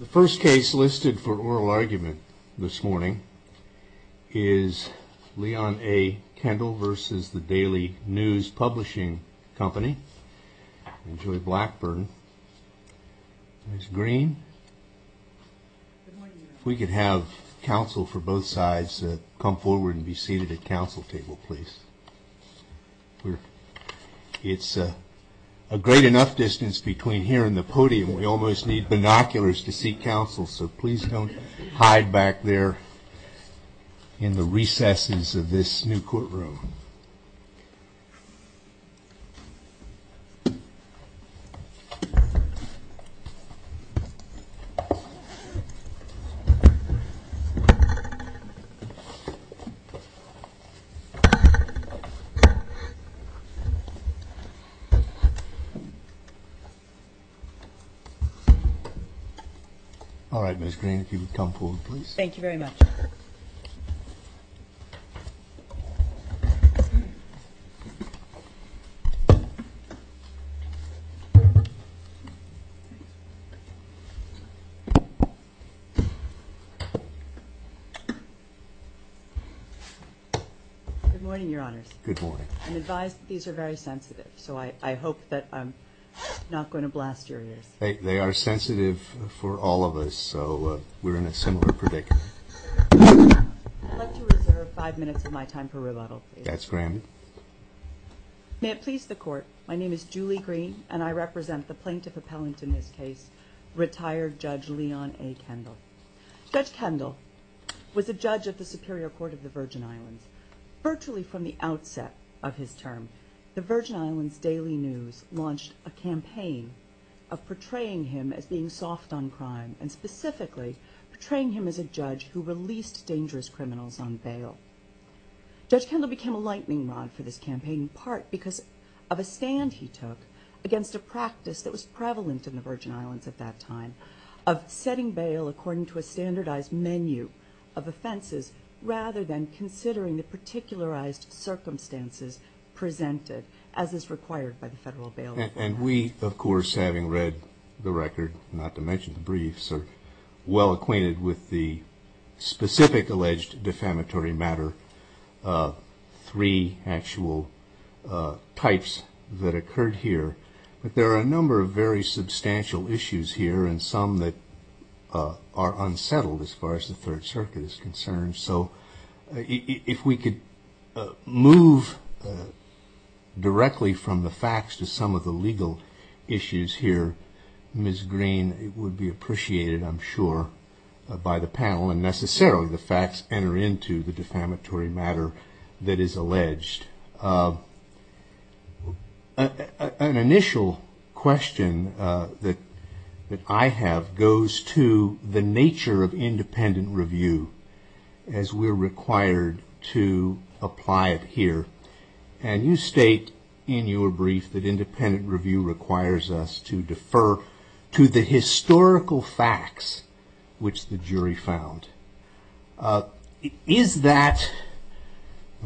The first case listed for oral argument this morning is Leon A. Kendall v. The Daily News Publishing Company, and Julie Blackburn, Ms. Green. We could have counsel for both sides come forward and be seated at counsel table, please. It's a great enough distance between here and the podium, we almost need binoculars to seek counsel, so please don't hide back there in the recesses of this new courtroom. All right, Ms. Green, if you would come forward, please. Thank you very much. Good morning, Your Honors. Good morning. I'm advised that these are very sensitive, so I hope that I'm not going to blast your ears. They are sensitive for all of us, so we're in a similar predicament. I'd like to reserve five minutes of my time for rebuttal, please. That's granted. May it please the Court, my name is Julie Green, and I represent the plaintiff appellant in this case, retired Judge Leon A. Kendall. Judge Kendall was a judge at the Superior Court of the Virgin Islands. Virtually from the outset of his term, the Virgin Islands Daily News launched a campaign of portraying him as being soft on crime, and specifically portraying him as a judge who released dangerous criminals on bail. Judge Kendall became a lightning rod for this campaign, in part because of a stand he took against a practice that was prevalent in the Virgin Islands at that time, of setting bail according to a standardized menu of offenses, rather than considering the particularized And we, of course, having read the record, not to mention the briefs, are well acquainted with the specific alleged defamatory matter, three actual types that occurred here. But there are a number of very substantial issues here, and some that are unsettled as far as the Third Circuit is concerned. So if we could move directly from the facts to some of the legal issues here, Ms. Green, it would be appreciated, I'm sure, by the panel, and necessarily the facts enter into the defamatory matter that is alleged. An initial question that I have goes to the nature of independent review as we're required to apply it here. And you state in your brief that independent review requires us to defer to the historical facts which the jury found. Is that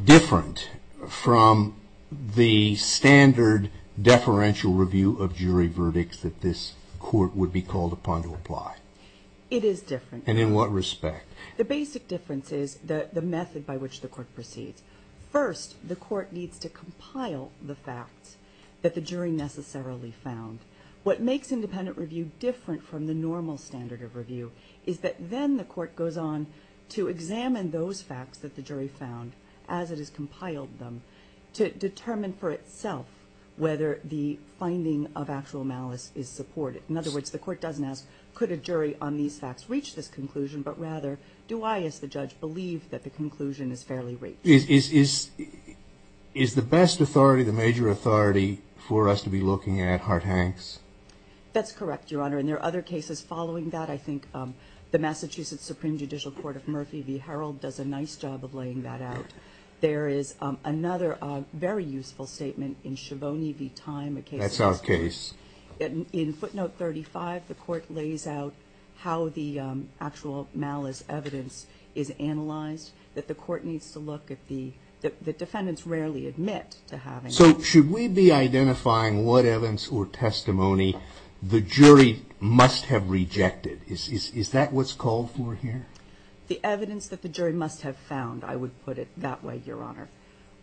different from the standard deferential review of jury verdicts that this court would be called upon to apply? It is different. And in what respect? The basic difference is the method by which the court proceeds. First, the court needs to compile the facts that the jury necessarily found. What makes independent review different from the normal standard of review is that then the court goes on to examine those facts that the jury found, as it has compiled them, to determine for itself whether the finding of actual malice is supported. In other words, the court doesn't ask, could a jury on these facts reach this conclusion, but rather, do I, as the judge, believe that the conclusion is fairly reached? Is the best authority the major authority for us to be looking at Hart-Hanks? That's correct, Your Honor. And there are other cases following that. I think the Massachusetts Supreme Judicial Court of Murphy v. Herald does a nice job of laying that out. There is another very useful statement in Schiavone v. Time, a case that's in footnote 35. The court lays out how the actual malice evidence is analyzed, that the court needs to look at the, that defendants rarely admit to having. So should we be identifying what evidence or testimony the jury must have rejected? Is that what's called for here? The evidence that the jury must have found, I would put it that way, Your Honor.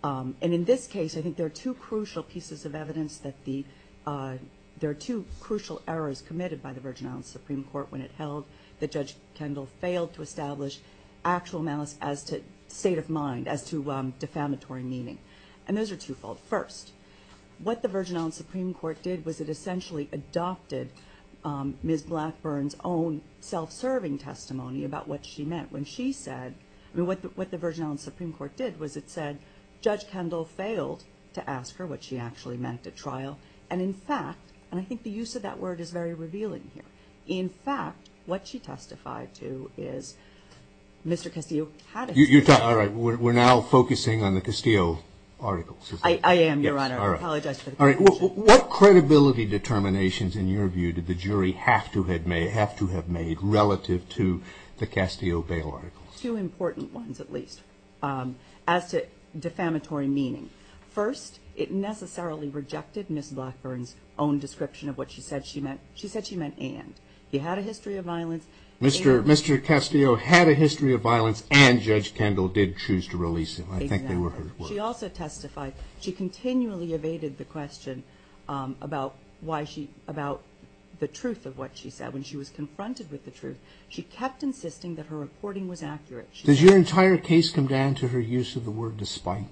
And in this case, I think there are two crucial pieces of evidence that the, there are two crucial errors committed by the Virgin Islands Supreme Court when it held that Judge Kendall failed to establish actual malice as to state of mind, as to defamatory meaning. And those are two-fold. First, what the Virgin Islands Supreme Court did was it essentially adopted Ms. Blackburn's own self-serving testimony about what she meant when she said, I mean, what the Virgin Islands Supreme Court did was it said, Judge Kendall failed to ask her what she actually meant at trial. And in fact, and I think the use of that word is very revealing here. In fact, what she testified to is Mr. Castillo had a- You're talking, all right, we're now focusing on the Castillo articles. I am, Your Honor. All right. I apologize for the confusion. All right. What credibility determinations, in your view, did the jury have to have made relative to the Castillo bail articles? Two important ones, at least, as to defamatory meaning. First, it necessarily rejected Ms. Blackburn's own description of what she said she meant. She said she meant and. He had a history of violence and- Ms. Kendall did choose to release him. I think they were her words. Exactly. She also testified, she continually evaded the question about why she, about the truth of what she said. When she was confronted with the truth, she kept insisting that her reporting was accurate. Does your entire case come down to her use of the word despite?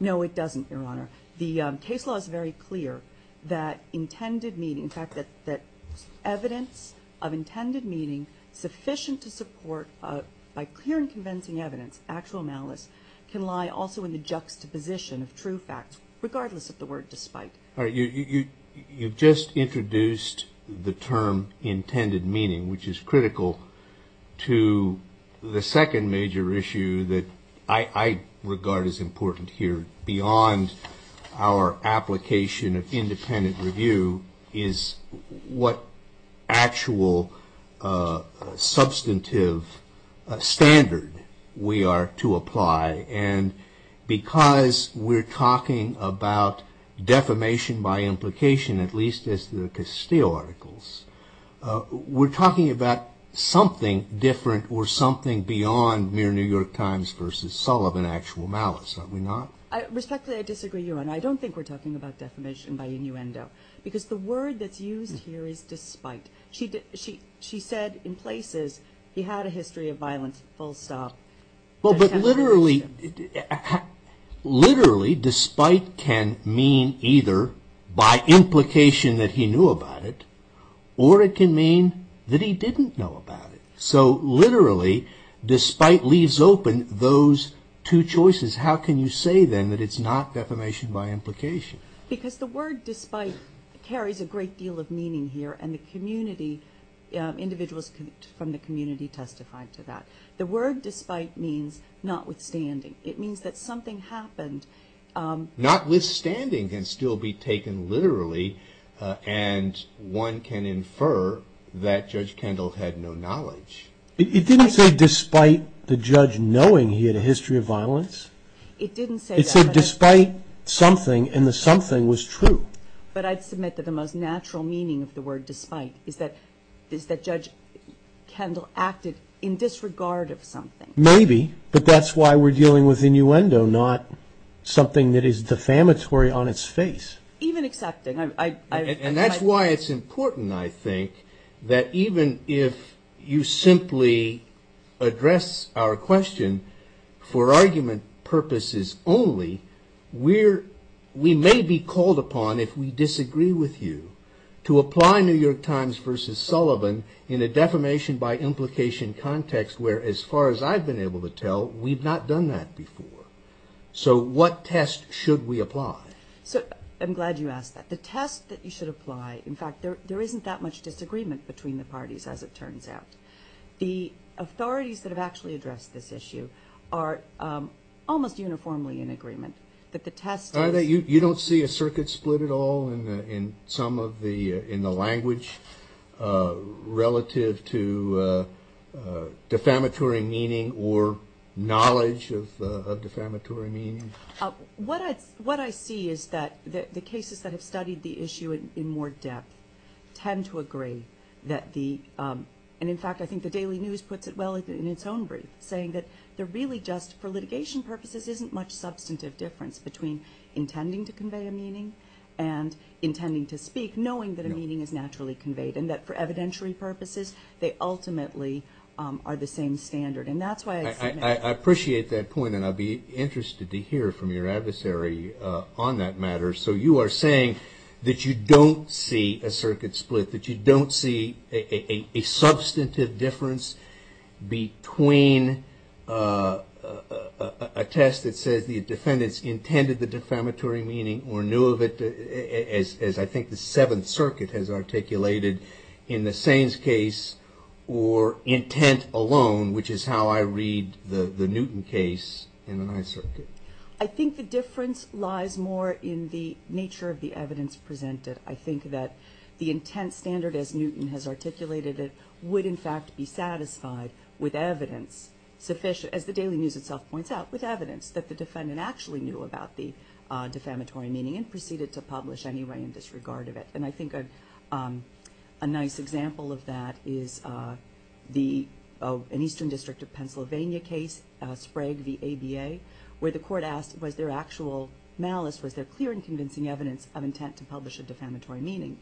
No, it doesn't, Your Honor. The case law is very clear that intended meaning, in fact, that evidence of intended meaning sufficient to support, by clear and convincing evidence, actual malice, can lie also in the juxtaposition of true facts, regardless of the word despite. All right. You've just introduced the term intended meaning, which is critical to the second major issue that I regard as important here, beyond our application of independent review, is what actual substantive standard we are to apply. And because we're talking about defamation by implication, at least as the Castillo articles, we're talking about something different or something beyond mere New York Times versus Sullivan actual malice, are we not? Respectfully, I disagree, Your Honor. I don't think we're talking about defamation by innuendo, because the word that's used here is despite. She said in places, he had a history of violence, full stop. But literally, despite can mean either by implication that he knew about it, or it can mean that he didn't know about it. So literally, despite leaves open those two choices. How can you say then that it's not defamation by implication? Because the word despite carries a great deal of meaning here, and the community, individuals from the community testified to that. The word despite means notwithstanding. It means that something happened. Notwithstanding can still be taken literally, and one can infer that Judge Kendall had no knowledge. It didn't say despite the judge knowing he had a history of violence. It didn't say that. It said despite something, and the something was true. But I'd submit that the most natural meaning of the word despite is that Judge Kendall acted in disregard of something. Maybe, but that's why we're dealing with innuendo, not something that is defamatory on its face. Even accepting. And that's why it's important, I think, that even if you simply address our question for argument purposes only, we may be called upon, if we disagree with you, to apply New York Times versus Sullivan in a defamation by implication context where, as far as I've been able to tell, we've not done that before. So what test should we apply? So I'm glad you asked that. The test that you should apply, in fact, there isn't that much disagreement between the parties, as it turns out. The authorities that have actually addressed this issue are almost uniformly in agreement that the test is- You don't see a circuit split at all in some of the language relative to defamatory meaning or knowledge of defamatory meaning? What I see is that the cases that have studied the issue in more depth tend to agree that the- And in fact, I think the Daily News puts it well in its own brief, saying that there really just, for litigation purposes, isn't much substantive difference between intending to convey a meaning and intending to speak, knowing that a meaning is naturally conveyed and that for evidentiary purposes, they ultimately are the same standard. And that's why I- I appreciate that point, and I'll be interested to hear from your adversary on that matter. So you are saying that you don't see a circuit split, that you don't see a substantive difference between a test that says the defendants intended the defamatory meaning or knew of it, as I think the Seventh Circuit has articulated in the Saines case, or intent alone, which is how I read the Newton case in the Ninth Circuit. I think the difference lies more in the nature of the evidence presented. I think that the intent standard, as Newton has articulated it, would in fact be satisfied with evidence, as the Daily News itself points out, with evidence that the defendant actually knew about the defamatory meaning and proceeded to publish anyway in disregard of it. And I think a nice example of that is an Eastern District of Pennsylvania case, Sprague v. Sprague, where the court asked was there actual malice, was there clear and convincing evidence of intent to publish a defamatory meaning.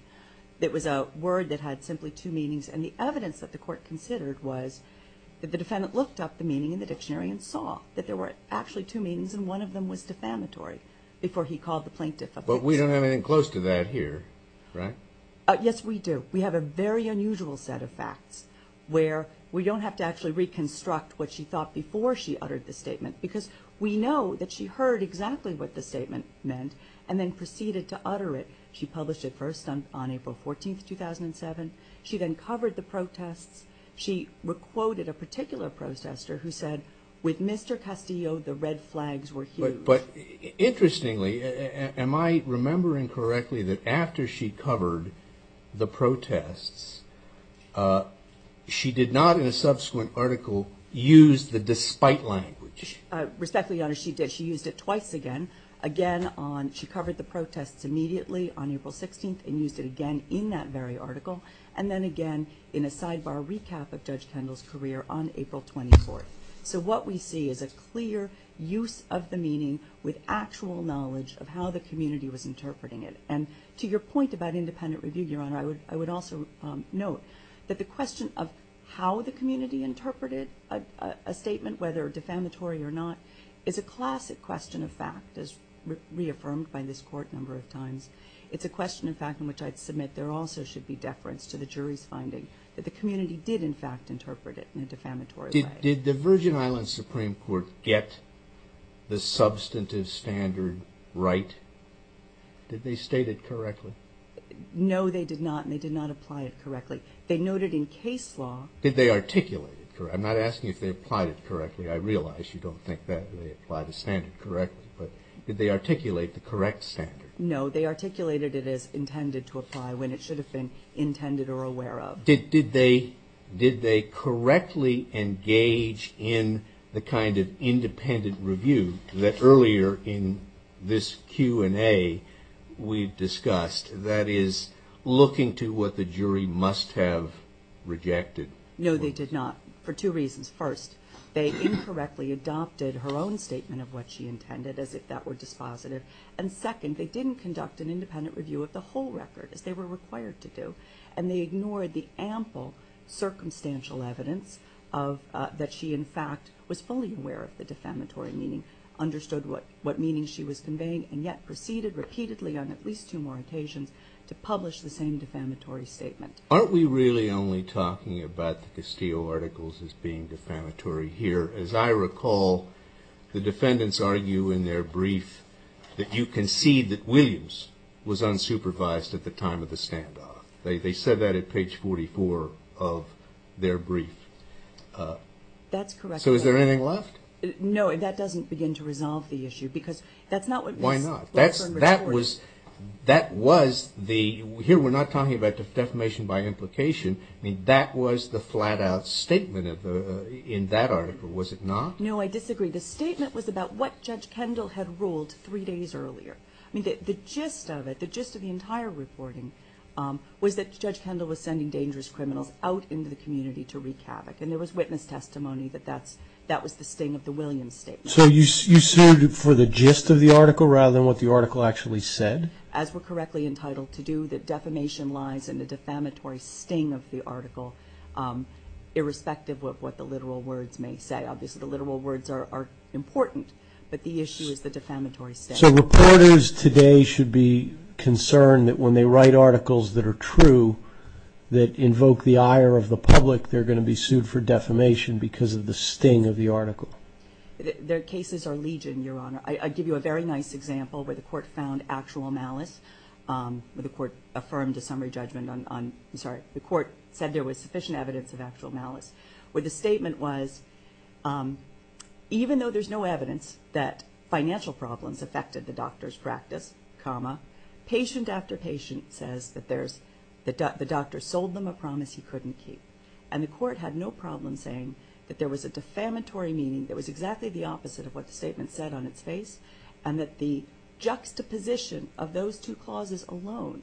It was a word that had simply two meanings, and the evidence that the court considered was that the defendant looked up the meaning in the dictionary and saw that there were actually two meanings, and one of them was defamatory, before he called the plaintiff a- But we don't have anything close to that here, right? Yes, we do. We have a very unusual set of facts where we don't have to actually reconstruct what she thought before she uttered the statement, because we know that she heard exactly what the statement meant and then proceeded to utter it. She published it first on April 14, 2007. She then covered the protests. She re-quoted a particular protester who said, with Mr. Castillo, the red flags were huge. But interestingly, am I remembering correctly that after she covered the protests, she did not, in a subsequent article, use the despite language? Respectfully, Your Honor, she did. She used it twice again. Again, she covered the protests immediately on April 16 and used it again in that very article, and then again in a sidebar recap of Judge Kendall's career on April 24. So what we see is a clear use of the meaning with actual knowledge of how the community was interpreting it. And to your point about independent review, Your Honor, I would also note that the question of how the community interpreted a statement, whether defamatory or not, is a classic question of fact, as reaffirmed by this Court a number of times. It's a question of fact in which I'd submit there also should be deference to the jury's finding that the community did, in fact, interpret it in a defamatory way. Did the Virgin Islands Supreme Court get the substantive standard right? Did they state it correctly? No, they did not, and they did not apply it correctly. They noted in case law... Did they articulate it? I'm not asking if they applied it correctly. I realize you don't think that they applied the standard correctly, but did they articulate the correct standard? No, they articulated it as intended to apply when it should have been intended or aware of. Did they correctly engage in the kind of independent review that earlier in this Q&A we discussed, that is, looking to what the jury must have rejected? No, they did not, for two reasons. First, they incorrectly adopted her own statement of what she intended as if that were dispositive. And second, they didn't conduct an independent review of the whole record as they were required to do, and they ignored the ample circumstantial evidence that she, in fact, was fully aware of the defamatory meaning, understood what she was conveying, and yet proceeded repeatedly on at least two more occasions to publish the same defamatory statement. Aren't we really only talking about the Castillo articles as being defamatory here? As I recall, the defendants argue in their brief that you concede that Williams was unsupervised at the time of the standoff. They said that at page 44 of their brief. That's correct. So is there anything left? No, that doesn't begin to resolve the issue, because that's not what Ms. Lutzer reported. Why not? That was the – here we're not talking about defamation by implication. I mean, that was the flat-out statement in that article, was it not? No, I disagree. The statement was about what Judge Kendall had ruled three days earlier. I mean, the gist of it, the gist of the entire reporting, was that Judge Kendall was sending dangerous criminals out into the community to wreak havoc, and there was witness testimony that that was the sting of the Williams statement. So you sued for the gist of the article rather than what the article actually said? As we're correctly entitled to do, that defamation lies in the defamatory sting of the article, irrespective of what the literal words may say. Obviously, the literal words are important, but the issue is the defamatory sting. So reporters today should be concerned that when they write articles that are true that invoke the ire of the public, they're going to be sued for defamation because of the sting of the article. Their cases are legion, Your Honor. I give you a very nice example where the Court found actual malice, where the Court affirmed a summary judgment on – I'm sorry, the Court said there was sufficient evidence of actual malice, where the statement was, even though there's no evidence that financial problems affected the doctor's practice, comma, patient after patient says that there's – the doctor sold them a promise he couldn't keep. And the Court had no problem saying that there was a defamatory meaning that was exactly the opposite of what the statement said on its face, and that the juxtaposition of those two clauses alone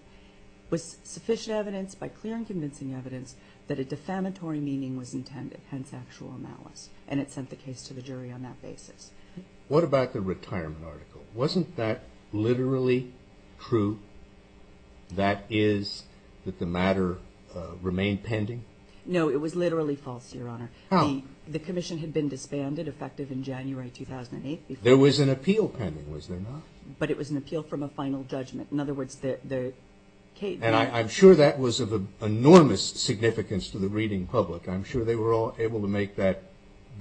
was sufficient evidence by clear and convincing evidence that a defamatory meaning was intended, hence actual malice. And it sent the case to the jury on that basis. What about the retirement article? Wasn't that literally true, that is, that the matter remained pending? No, it was literally false, Your Honor. How? The commission had been disbanded, effective in January 2008. There was an appeal pending, was there not? But it was an appeal from a final judgment. In other words, the case – And I'm sure that was of enormous significance to the reading public. I'm sure they were all able to make that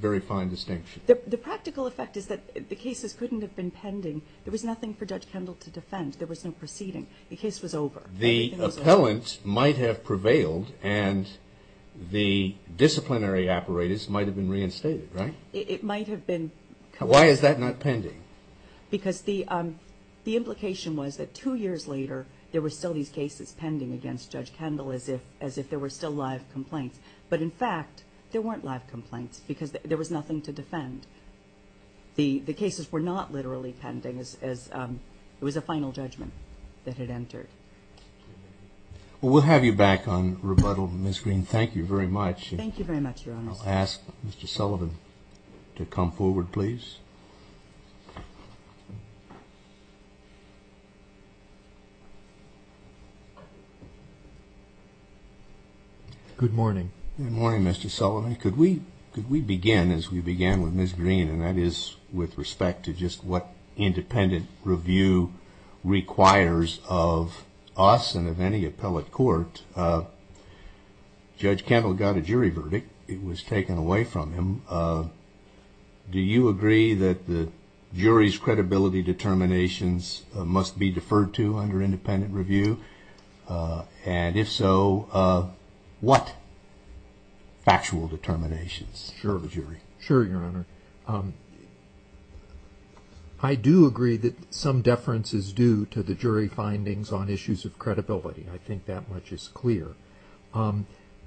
very fine distinction. The practical effect is that the cases couldn't have been pending. There was nothing for Judge Kendall to defend. There was no proceeding. The case was over. The appellant might have prevailed, and the disciplinary apparatus might have been reinstated, right? It might have been. Why is that not pending? Because the implication was that two years later, there were still these cases pending against Judge Kendall as if there were still live complaints. But in fact, there weren't live complaints because there was nothing to defend. The cases were not literally pending as it was a final judgment that had entered. Well, we'll have you back on rebuttal, Ms. Green. Thank you very much. Thank you very much, Your Honor. I'll ask Mr. Sullivan to come forward, please. Good morning. Good morning, Mr. Sullivan. Could we begin as we began with Ms. Green, and that is with respect to just what independent review requires of us and of any appellate court? Judge Kendall got a jury verdict. It was taken away from him. Do you agree that the jury's credibility determinations must be deferred to under independent review? And if so, what? Factual determinations of the jury. Sure, Your Honor. I do agree that some deference is due to the jury findings on issues of credibility. I think that much is clear.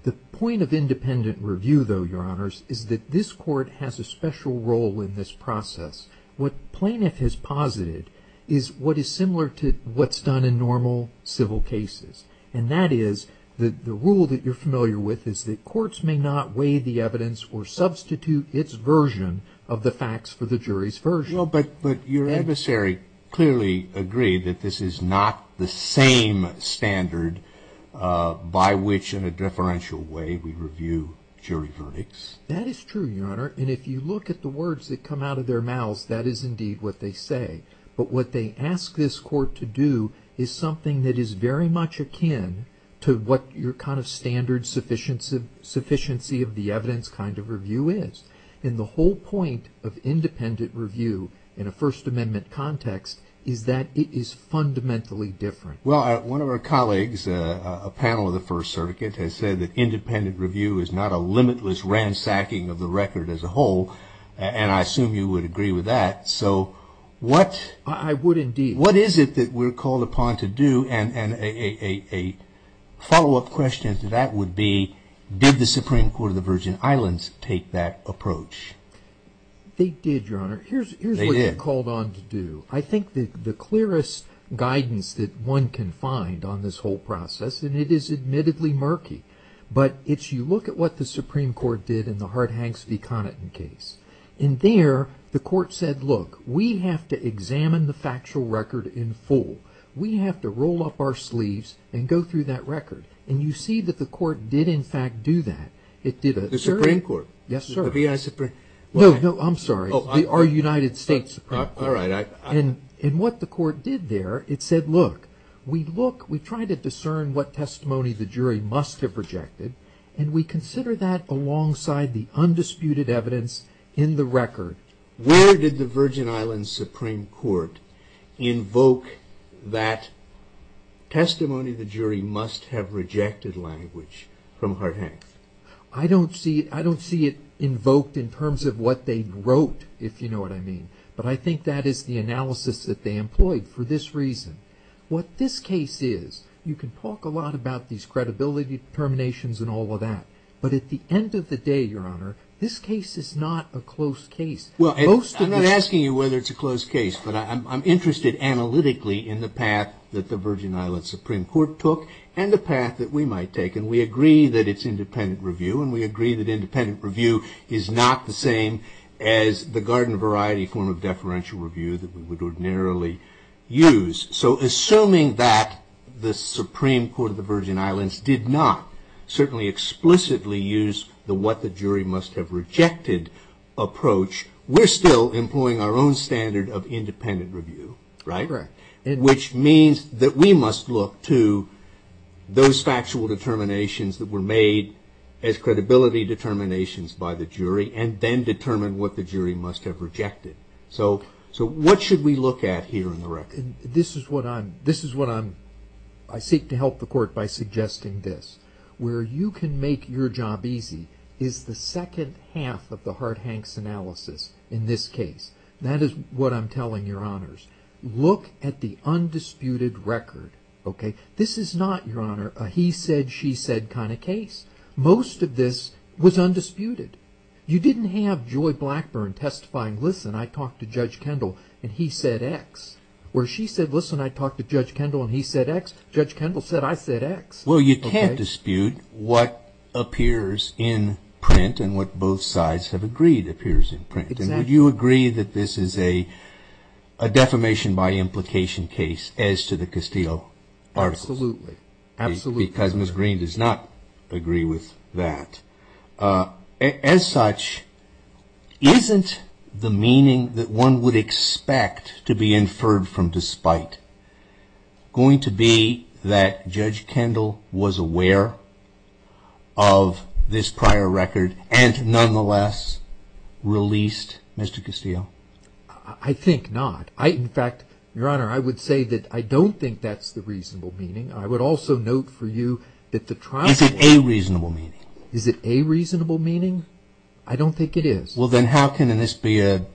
The point of independent review, though, Your Honors, is that this court has a special role in this process. What plaintiff has posited is what is similar to what's done in normal civil cases, and that is that the rule that you're familiar with is that courts may not weigh the evidence or substitute its version of the facts for the jury's version. No, but your adversary clearly agreed that this is not the same standard by which in a deferential way we review jury verdicts. That is true, Your Honor, and if you look at the words that come out of their mouths, that is indeed what they say. But what they ask this court to do is something that is very much akin to what your kind of standard sufficiency of the evidence kind of review is. And the whole point of independent review in a First Amendment context is that it is fundamentally different. Well, one of our colleagues, a panel of the First Circuit, has said that independent review is not a limitless ransacking of the record as a whole, and I assume you would agree with that. So what... I would indeed. What is it that we're called upon to do? And a follow-up question to that would be, did the Supreme Court of the Virgin Islands take that approach? They did, Your Honor. Here's what you're called on to do. I think the clearest guidance that one can find on this whole process, and it is admittedly murky, but it's you look at what the Supreme Court did in the Hart-Hanks v. Connaughton case. In there, the court said, look, we have to examine the factual record in full. We have to roll up our sleeves and go through that record. And you see that the court did, in fact, do that. It did a... The Supreme Court? Yes, sir. The B.I. Supreme... No, no, I'm sorry. Our United States Supreme Court. All right. And what the court did there, it said, look, we look, we try to discern what testimony the jury must have rejected, and we consider that alongside the undisputed evidence in the record. Where did the Virgin Islands Supreme Court invoke that testimony the jury must have rejected language from Hart-Hanks? I don't see it invoked in terms of what they wrote, if you know what I mean. But I think that is the analysis that they employed for this reason. What this case is, you can talk a lot about these credibility determinations and all of that, but at the end of the day, Your Honor, this case is not a close case. Well, I'm not asking you whether it's a close case, but I'm interested analytically in the path that the Virgin Islands Supreme Court took and the path that we might take. And we agree that it's independent review, and we agree that independent review is not the same as the garden variety form of deferential review that we would ordinarily use. So assuming that the Supreme Court of the Virgin Islands did not certainly explicitly use the what the jury must have rejected approach, we're still employing our own standard of independent review, right? Correct. Which means that we must look to those factual determinations that were made as credibility determinations by the jury and then determine what the jury must have rejected. So what should we look at here in the record? This is what I'm, this is what I'm, I seek to help the court by suggesting this. Where you can make your job easy is the second half of the Hart-Hanks analysis in this case. That is what I'm telling Your Honors. Look at the undisputed record, okay? This is not, Your Honor, a he said, she said kind of case. Most of this was undisputed. You didn't have Joy Blackburn testifying, listen, I talked to Judge Kendall and he said X. Where she said, listen, I talked to Judge Kendall and he said X, Judge Kendall said I said X. Well, you can't dispute what appears in print and what both sides have agreed appears in print. And would you agree that this is a defamation by implication case as to the Castillo article? Absolutely. Absolutely. Because Ms. Green does not agree with that. As such, isn't the meaning that one would was aware of this prior record and nonetheless released Mr. Castillo? I think not. I, in fact, Your Honor, I would say that I don't think that's the reasonable meaning. I would also note for you that the trial Is it a reasonable meaning? Is it a reasonable meaning? I don't think it is. Well then how can this be a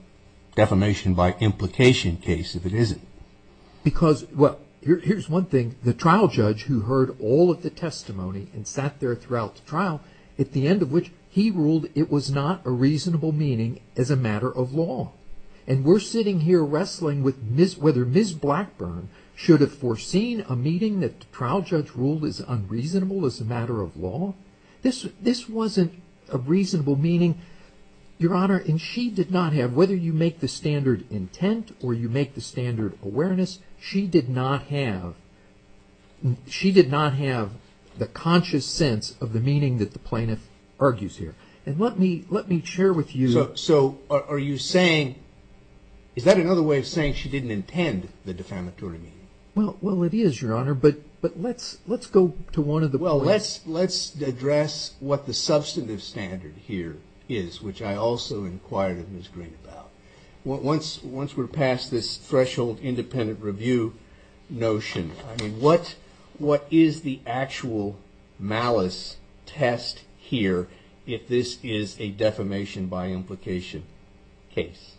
defamation by implication case if it isn't? Because well, here's one thing. The trial judge who heard all of the testimony and sat there throughout the trial, at the end of which he ruled it was not a reasonable meaning as a matter of law. And we're sitting here wrestling with whether Ms. Blackburn should have foreseen a meeting that the trial judge ruled as unreasonable as a matter of law. This wasn't a reasonable meaning, Your Honor. And she did not have, whether you make the standard awareness, she did not have the conscious sense of the meaning that the plaintiff argues here. And let me share with you So, are you saying, is that another way of saying she didn't intend the defamatory meaning? Well, it is, Your Honor, but let's go to one of the Well, let's address what the substantive standard here is, which I also inquired of Ms. Green about. Once we're past this threshold independent review notion, I mean, what is the actual malice test here if this is a defamation by implication case?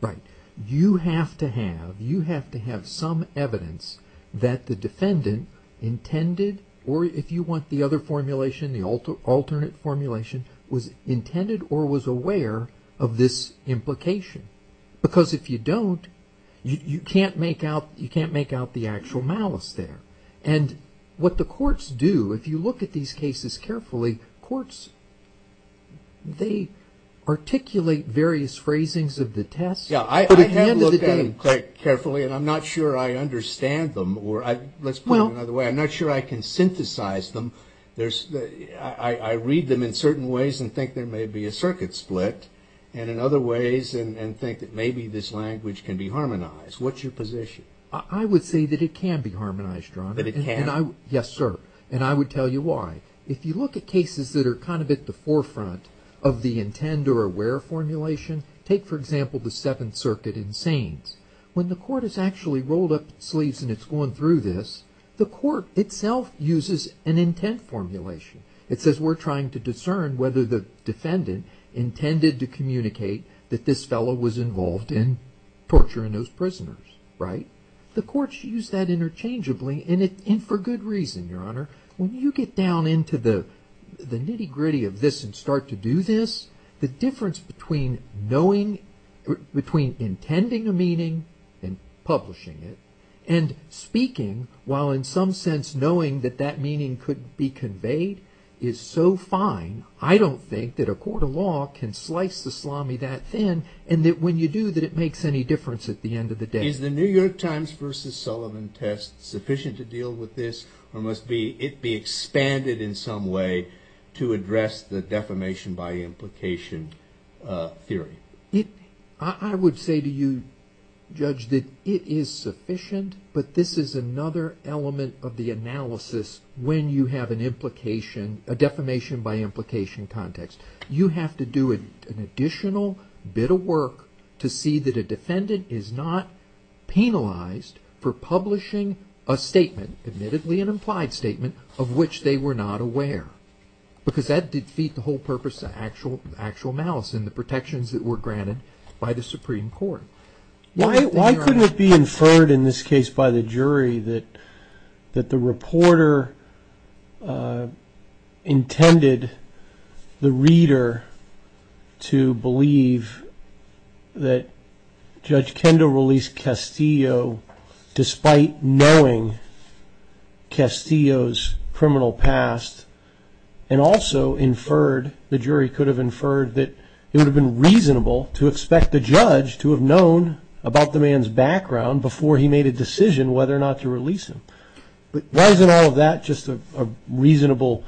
Right. You have to have some evidence that the defendant intended, or if you want the other formulation, the alternate formulation, was intended or was aware of this implication. Because if you don't, you can't make out the actual malice there. And what the courts do, if you look at these cases carefully, courts, they articulate various phrasings of the test. Yeah, I haven't looked at them quite carefully, and I'm not sure I understand them, or let's put it another way, I'm not sure I can synthesize them. I read them in certain ways and think there may be a circuit split, and in other ways, and think that maybe this language can be harmonized. What's your position? I would say that it can be harmonized, Your Honor. That it can? Yes, sir. And I would tell you why. If you look at cases that are kind of at the forefront of the intend or aware formulation, take, for example, the Seventh Circuit in Sains. When the court is actually rolled up its sleeves and it's going through this, the court itself uses an intent formulation. It says we're trying to discern whether the defendant intended to communicate that this fellow was involved in torturing those prisoners, right? The courts use that interchangeably, and for good reason, Your Honor. When you get down into the nitty-gritty of this and start to do this, the difference between knowing, between intending a meaning and publishing it, and speaking, while in some sense knowing that that meaning could be conveyed, is so fine, I don't think that a court of law can slice the salami that thin, and that when you do, that it makes any difference at the end of the day. Is the New York Times v. Sullivan test sufficient to deal with this, or must it be expanded in some way to address the defamation by implication theory? I would say to you, Judge, that it is sufficient, but this is another element of the analysis when you have a defamation by implication context. You have to do an additional bit of work to see that a defendant is not penalized for publishing a statement, admittedly an inmate, but not aware, because that would defeat the whole purpose of actual malice and the protections that were granted by the Supreme Court. Why couldn't it be inferred in this case by the jury that the reporter intended the reader to believe that Judge Kendo released Castillo despite knowing Castillo's criminal past, and also inferred, the jury could have inferred, that it would have been reasonable to expect the judge to have known about the man's background before he made a decision whether or not to release him. But why isn't all of that just a reasonable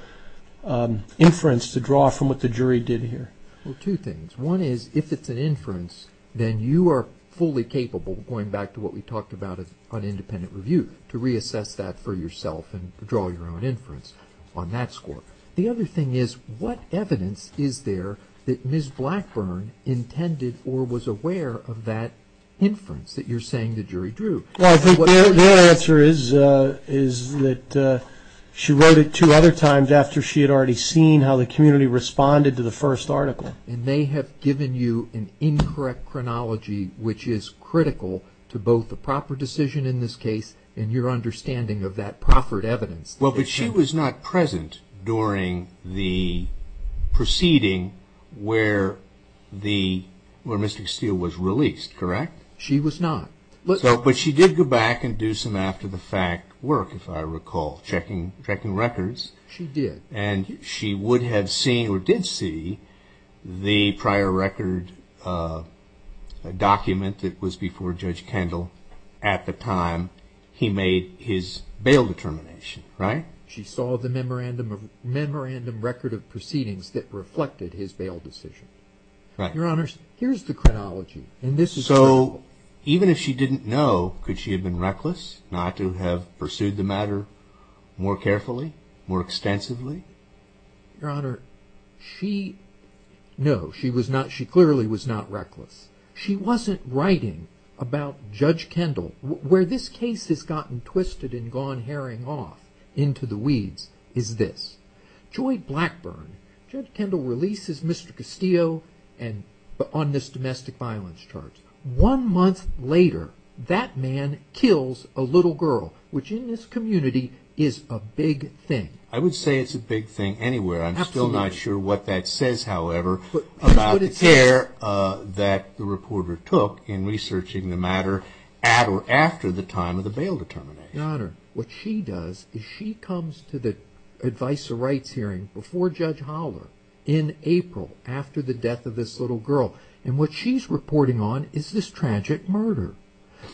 inference to draw from what the jury did here? Well, two things. One is, if it's an inference, then you are fully capable, going back to what we talked about on independent review, to reassess that for yourself and draw your own inference on that score. The other thing is, what evidence is there that Ms. Blackburn intended or was aware of that inference that you're saying the jury drew? Well, I think their answer is that she wrote it two other times after she had already seen how the community responded to the first article. And they have given you an incorrect chronology, which is critical to both the proper decision in this case and your understanding of that proper evidence. Well, but she was not present during the proceeding where Mr. Steele was released, correct? She was not. But she did go back and do some after-the-fact work, if I recall, checking records. She did. And she would have seen, or did see, the prior record document that was before Judge Kendall at the time he made his bail determination, right? She saw the memorandum record of proceedings that reflected his bail decision. Right. Your Honor, here's the chronology, and this is critical. So, even if she didn't know, could she have been reckless not to have pursued the matter more carefully, more extensively? Your Honor, she, no, she clearly was not reckless. She wasn't writing about Judge Kendall. Where this case has gotten twisted and gone herring off into the weeds is this. Joy Blackburn, Judge Kendall releases Mr. Castillo on this domestic violence charge. One month later, that man kills a little girl, which in this community is a big thing. I would say it's a big thing anywhere. Absolutely. I'm still not sure what that says, however, about the care that the reporter took in researching the matter at or after the time of the bail determination. Your Honor, what she does is she comes to the advice of rights hearing before Judge Holler in April after the death of this little girl. And what she's reporting on is this tragic murder.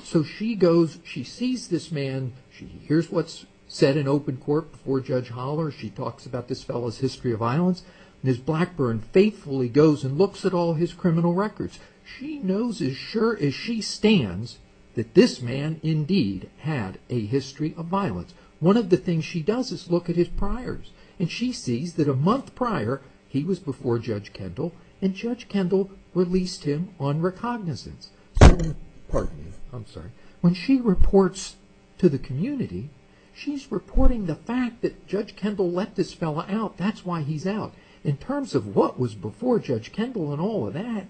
So, she goes, she sees this man. She hears what's said in open court before Judge Holler. She talks about this fellow's history of violence. Ms. Blackburn faithfully goes and looks at all his criminal records. She knows as sure as she stands that this man indeed had a history of violence. One of the things she does is look at his priors. And she sees that a month prior, he was before Judge Kendall, and Judge Kendall released him on recognizance. Pardon me. I'm sorry. When she reports to the community, she's reporting the fact that Judge Kendall let this fellow out. That's why he's out. In terms of what was before Judge Kendall and all of that,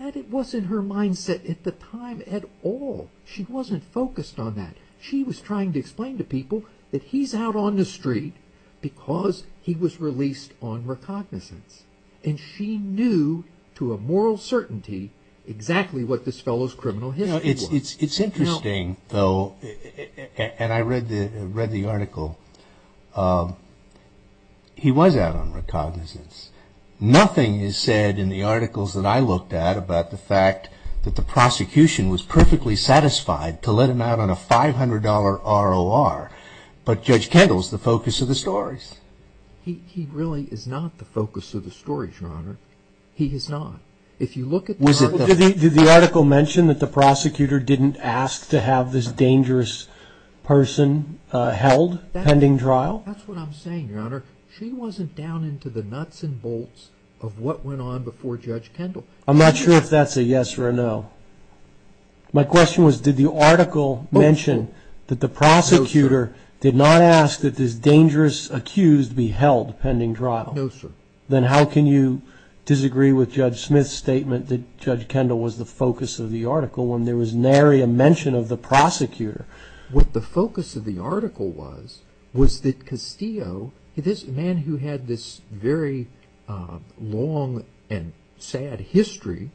that wasn't her mindset at the time at all. She wasn't focused on that. She was trying to explain to people that he's out on the street because he was released on recognizance. And she knew to a moral certainty exactly what this fellow's criminal history was. It's interesting, though, and I read the article. He was out on recognizance. Nothing is said in the articles that I looked at about the fact that the prosecution was perfectly satisfied to let him out on a $500 ROR. But Judge Kendall's the focus of the stories. He really is not the focus of the stories, Your Honor. He is not. Did the article mention that the prosecutor didn't ask to have this dangerous person held pending trial? That's what I'm saying, Your Honor. She wasn't down into the nuts and bolts of what went on before Judge Kendall. I'm not sure if that's a yes or a no. My question was, did the article mention that the prosecutor did not ask that this dangerous accused be held pending trial? No, sir. Then how can you disagree with Judge Smith's statement that Judge Kendall was the focus of the article when there was nary a mention of the prosecutor? What the focus of the article was, was that Castillo, this man who had this very long and sad history,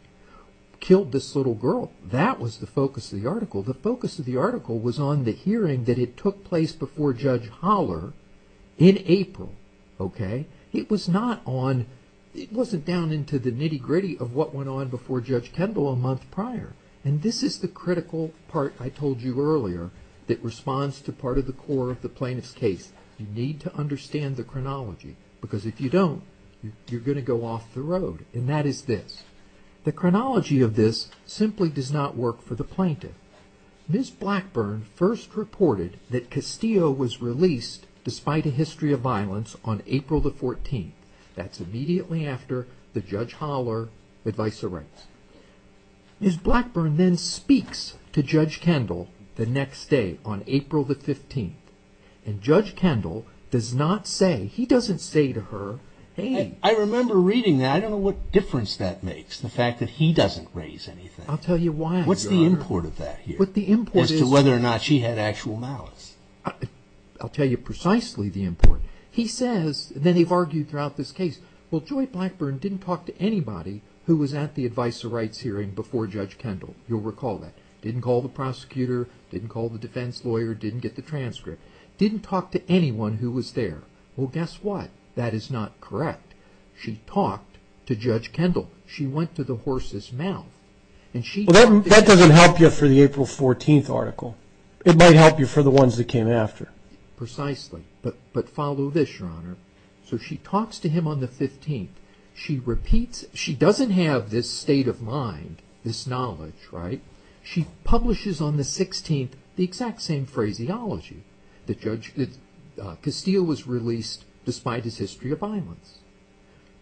killed this little girl. That was the focus of the article. The focus of the article was on the hearing that took place before Judge Holler in April. Okay? It was not on, it wasn't down into the nitty gritty of what went on before Judge Kendall a month prior. And this is the critical part I told you earlier that responds to part of the core of the plaintiff's case. You need to understand the chronology, because if you don't, you're going to go off the road. And that is this. The chronology of this simply does not work for the plaintiff. Ms. Blackburn first reported that Castillo was released despite a history of violence on April the 14th. That's immediately after the Judge Holler advisory. Ms. Blackburn then speaks to Judge Kendall the next day on April the 15th. And Judge Kendall does not say, he doesn't say to her, hey... I remember reading that. I don't know what difference that makes, the fact that he doesn't raise anything. I'll tell you why, Your Honor. What's the import of that here? As to whether or not she had actual malice. I'll tell you precisely the import. He says, and then they've argued throughout this case, well, Joy Blackburn didn't talk to anybody who was at the Advice of Rights hearing before Judge Kendall. You'll recall that. Didn't call the prosecutor, didn't call the defense lawyer, didn't get the transcript. Didn't talk to anyone who was there. Well, guess what? That is not correct. She talked to Judge Kendall. She went to the horse's mouth. Well, that doesn't help you for the April 14th article. It might help you for the ones that came after. Precisely. But follow this, Your Honor. So she talks to him on the 15th. She repeats, she doesn't have this state of mind, this knowledge, right? She publishes on the 16th the exact same phraseology. That Castillo was released despite his history of violence.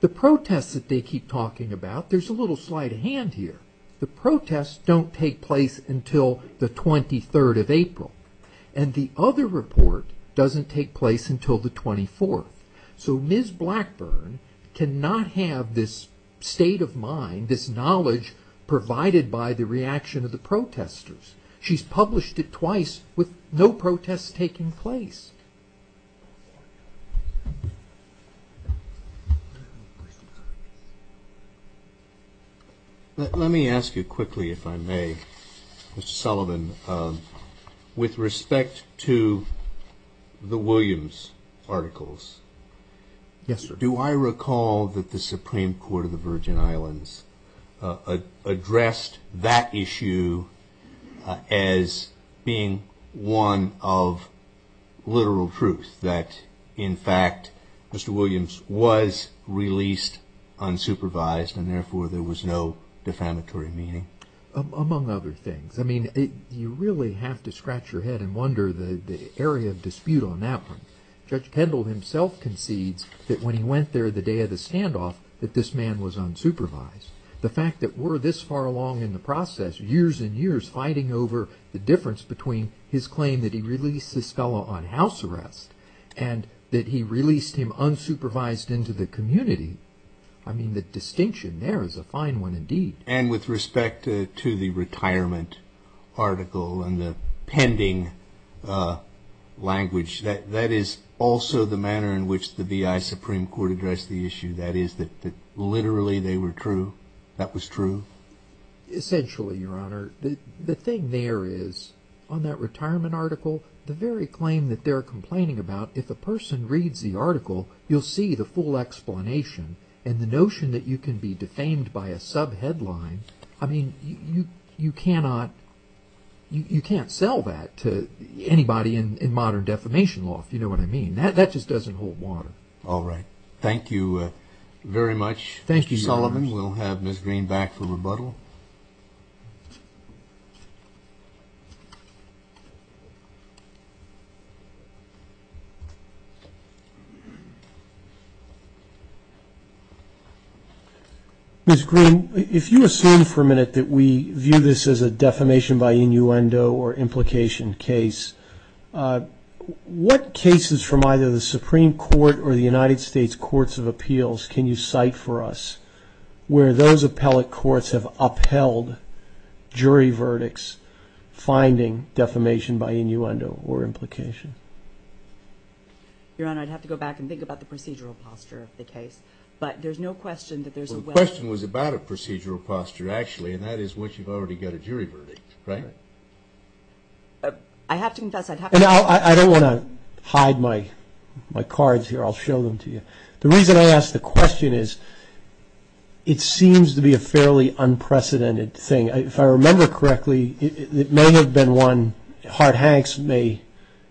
The protests that they keep talking about, there's a little sleight of hand here. The protests don't take place until the 23rd of April. And the other report doesn't take place until the 24th. So Ms. Blackburn cannot have this state of mind, this knowledge, provided by the reaction of the protesters. She's published it twice with no protests taking place. Let me ask you quickly, if I may, Mr. Sullivan, with respect to the Williams articles. Yes, sir. Do I recall that the Supreme Court of the Virgin Islands addressed that issue as being one of literal truth? That, in fact, Mr. Williams was released unsupervised, and therefore there was no defamatory meaning? Among other things. You really have to scratch your head and wonder the area of dispute on that one. Judge Kendall himself concedes that when he went there the day of the standoff, that this man was unsupervised. The fact that we're this far along in the process, years and years fighting over the difference between his claim that he released this fellow on house arrest and that he released him unsupervised into the community, I mean, the distinction there is a fine one indeed. And with respect to the retirement article and the pending language, that is also the manner in which the V.I. Supreme Court addressed the issue, that is, that literally they were true, that was true? Essentially, Your Honor. The thing there is, on that retirement article, the very claim that they're complaining about, if a person reads the article, you'll see the full explanation. And the notion that you can be defamed by a sub-headline, I mean, you cannot sell that to anybody in modern defamation law, if you know what I mean. That just doesn't hold water. All right. Thank you very much, Mr. Sullivan. We'll have Ms. Green back for rebuttal. Ms. Green, if you assume for a minute that we view this as a defamation by innuendo or implication case, what cases from either the Supreme Court or the United States Courts of Appeals can you cite for us where those appellate courts have upheld jury verdicts finding defamation by innuendo or implication? Your Honor, I'd have to go back and think about the procedural posture of the case. But there's no question that there's a well- Well, the question was about a procedural posture, actually, and that is what you've already got a jury verdict, right? I have to confess, I'd have to- I don't want to hide my cards here. I'll show them to you. The reason I ask the question is it seems to be a fairly unprecedented thing. If I remember correctly, it may have been one- Hart-Hanks may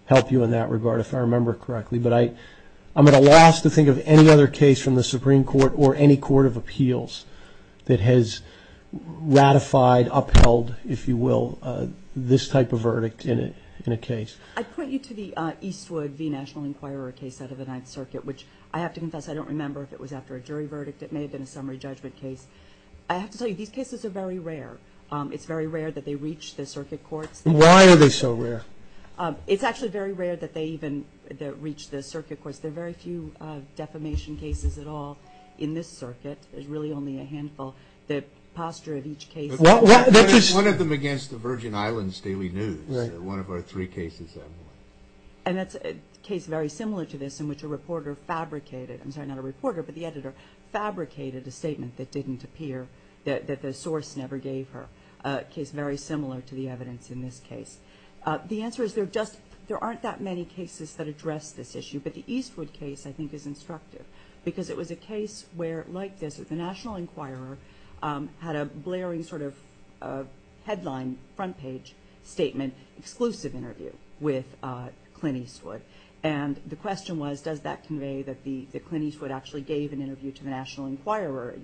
help you in that regard, if I remember correctly. But I'm at a loss to think of any other case from the Supreme Court or any Court of Appeals that has ratified, upheld, if you will, this type of verdict in a case. I'd point you to the Eastwood v. National Enquirer case out of the Ninth Circuit, which, I have to confess, I don't remember if it was after a jury verdict. It may have been a summary judgment case. I have to tell you, these cases are very rare. It's very rare that they reach the circuit courts. Why are they so rare? It's actually very rare that they even reach the circuit courts. There are very few defamation cases at all in this circuit. There's really only a handful. The posture of each case- One of them against the Virgin Islands Daily News, one of our three cases, I believe. And that's a case very similar to this, in which a reporter fabricated- I'm sorry, not a reporter, but the editor- fabricated a statement that didn't appear, that the source never gave her. A case very similar to the evidence in this case. The answer is, there aren't that many cases that address this issue. But the Eastwood case, I think, is instructive. Because it was a case where, like this, the National Enquirer had a blaring sort of headline, front-page statement, exclusive interview with Clint Eastwood. And the question was, does that convey that Clint Eastwood actually gave an interview to the National Enquirer,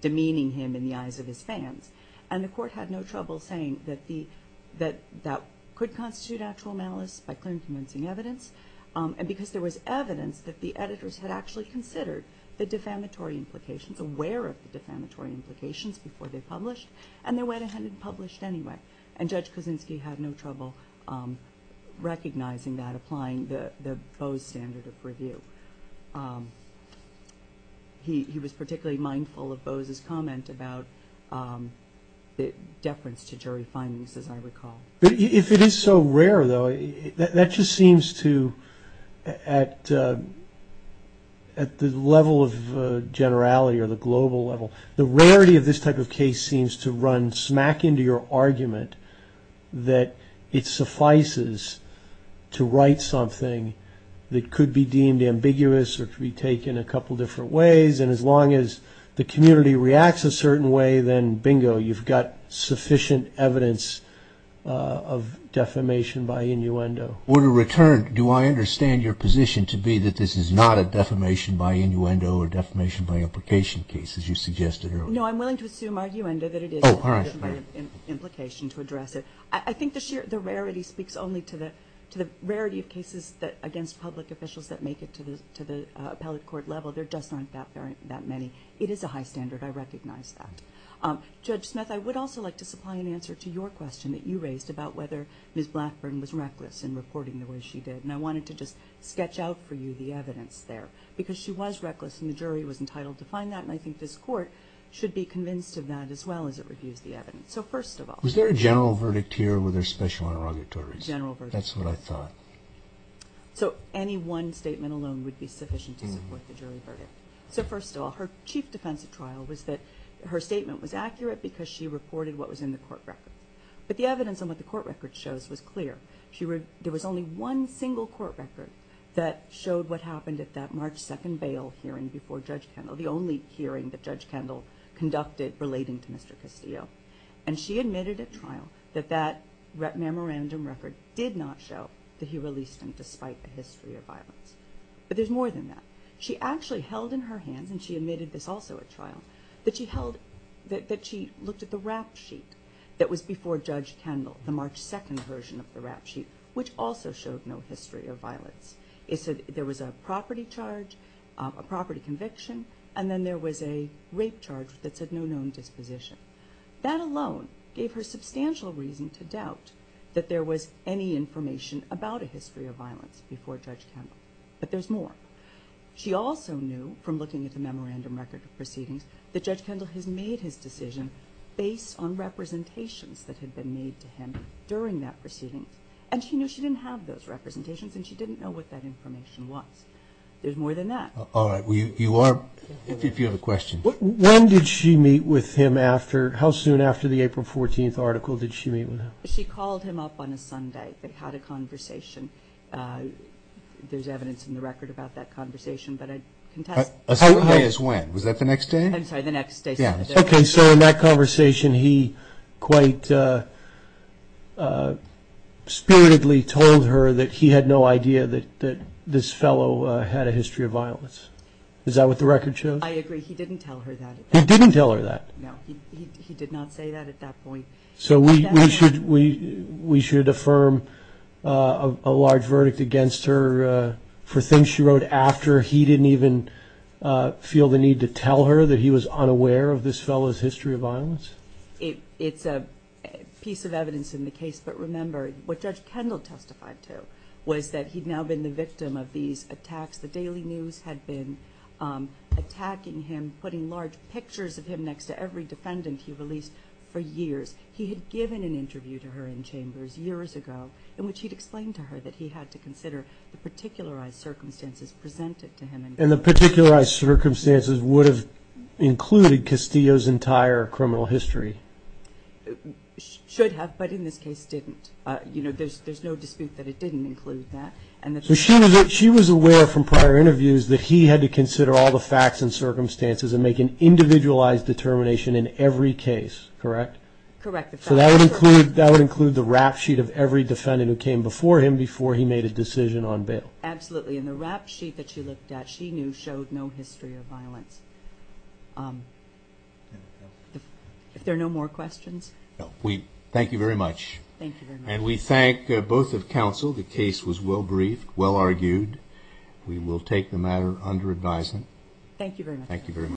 demeaning him in the eyes of his fans? And the court had no trouble saying that that could constitute actual malice by clear and convincing evidence. And because there was evidence that the editors had actually considered the defamatory implications, aware of the defamatory implications before they published, and they went ahead and published anyway. And Judge Kosinski had no trouble recognizing that, applying the Bose standard of review. He was particularly mindful of Bose's comment about the deference to jury findings, as I recall. But if it is so rare, though, that just seems to, at the level of generality, or the global level, the rarity of this type of case seems to run smack into your argument that it suffices to write something that could be deemed ambiguous or could be taken a couple different ways. And as long as the community reacts a certain way, then bingo, you've got sufficient evidence of defamation by innuendo. In return, do I understand your position to be that this is not a defamation by innuendo or defamation by implication case, as you suggested earlier? No, I'm willing to assume by innuendo that it is a defamation by implication to address it. I think the rarity speaks only to the rarity of cases against public officials that make it to the appellate court level. There just aren't that many. It is a high standard. I recognize that. Judge Smith, I would also like to supply an answer to your question that you raised about whether Ms. Blackburn was reckless in reporting the way she did. And I wanted to just sketch out for you the evidence there. Because she was reckless, and the jury was entitled to find that, and I think this court should be convinced of that as well as it reviews the evidence. So first of all... Was there a general verdict here, or were there special interrogatories? General verdict. That's what I thought. So any one statement alone would be sufficient to support the jury verdict. So first of all, her chief defense at trial was that her statement was accurate because she reported what was in the court record. But the evidence on what the court record shows was clear. There was only one single court record that showed what happened at that March 2nd bail hearing before Judge Kendall, the only hearing that Judge Kendall conducted relating to Mr. Castillo. And she admitted at trial that that memorandum record did not show that he released him despite a history of violence. But there's more than that. She actually held in her hands, and she admitted this also at trial, that she looked at the rap sheet that was before Judge Kendall, the March 2nd version of the rap sheet, which also showed no history of violence. It said there was a property charge, a property conviction, and then there was a rape charge that said no known disposition. That alone gave her substantial reason to doubt that there was any information about a history of violence before Judge Kendall. But there's more. She also knew, from looking at the memorandum record of proceedings, that Judge Kendall has made his decision based on representations that had been made to him during that proceeding. And she knew she didn't have those representations, and she didn't know what that information was. There's more than that. All right. You are... If you have a question. When did she meet with him after... How soon after the April 14th article did she meet with him? She called him up on a Sunday. They had a conversation. There's evidence in the record about that conversation, but I contest... A Sunday is when? Was that the next day? I'm sorry, the next day. Okay, so in that conversation, he quite spiritedly told her that he had no idea that this fellow had a history of violence. Is that what the record shows? I agree. He didn't tell her that. He didn't tell her that? No. He did not say that at that point. So we should affirm a large verdict against her for things she wrote after he didn't even feel the need to tell her that he was unaware of this fellow's history of violence? It's a piece of evidence in the case, but remember, what Judge Kendall testified to was that he'd now been the victim of these attacks. The Daily News had been attacking him, putting large pictures of him next to every defendant he released for years. He had given an interview to her in chambers years ago in which he'd explained to her that he had to consider the particularized circumstances presented to him in court. And the particularized circumstances would have included Castillo's entire criminal history? Should have, but in this case didn't. There's no dispute that it didn't include that. So she was aware from prior interviews that he had to consider all the facts and circumstances and make an individualized determination in every case, correct? Correct. So that would include the rap sheet of every defendant who came before him before he made a decision on bail? Absolutely, and the rap sheet that she looked at, that she knew, showed no history of violence. If there are no more questions? Thank you very much. And we thank both of counsel. The case was well-briefed, well-argued. We will take the matter under advisement. Thank you very much.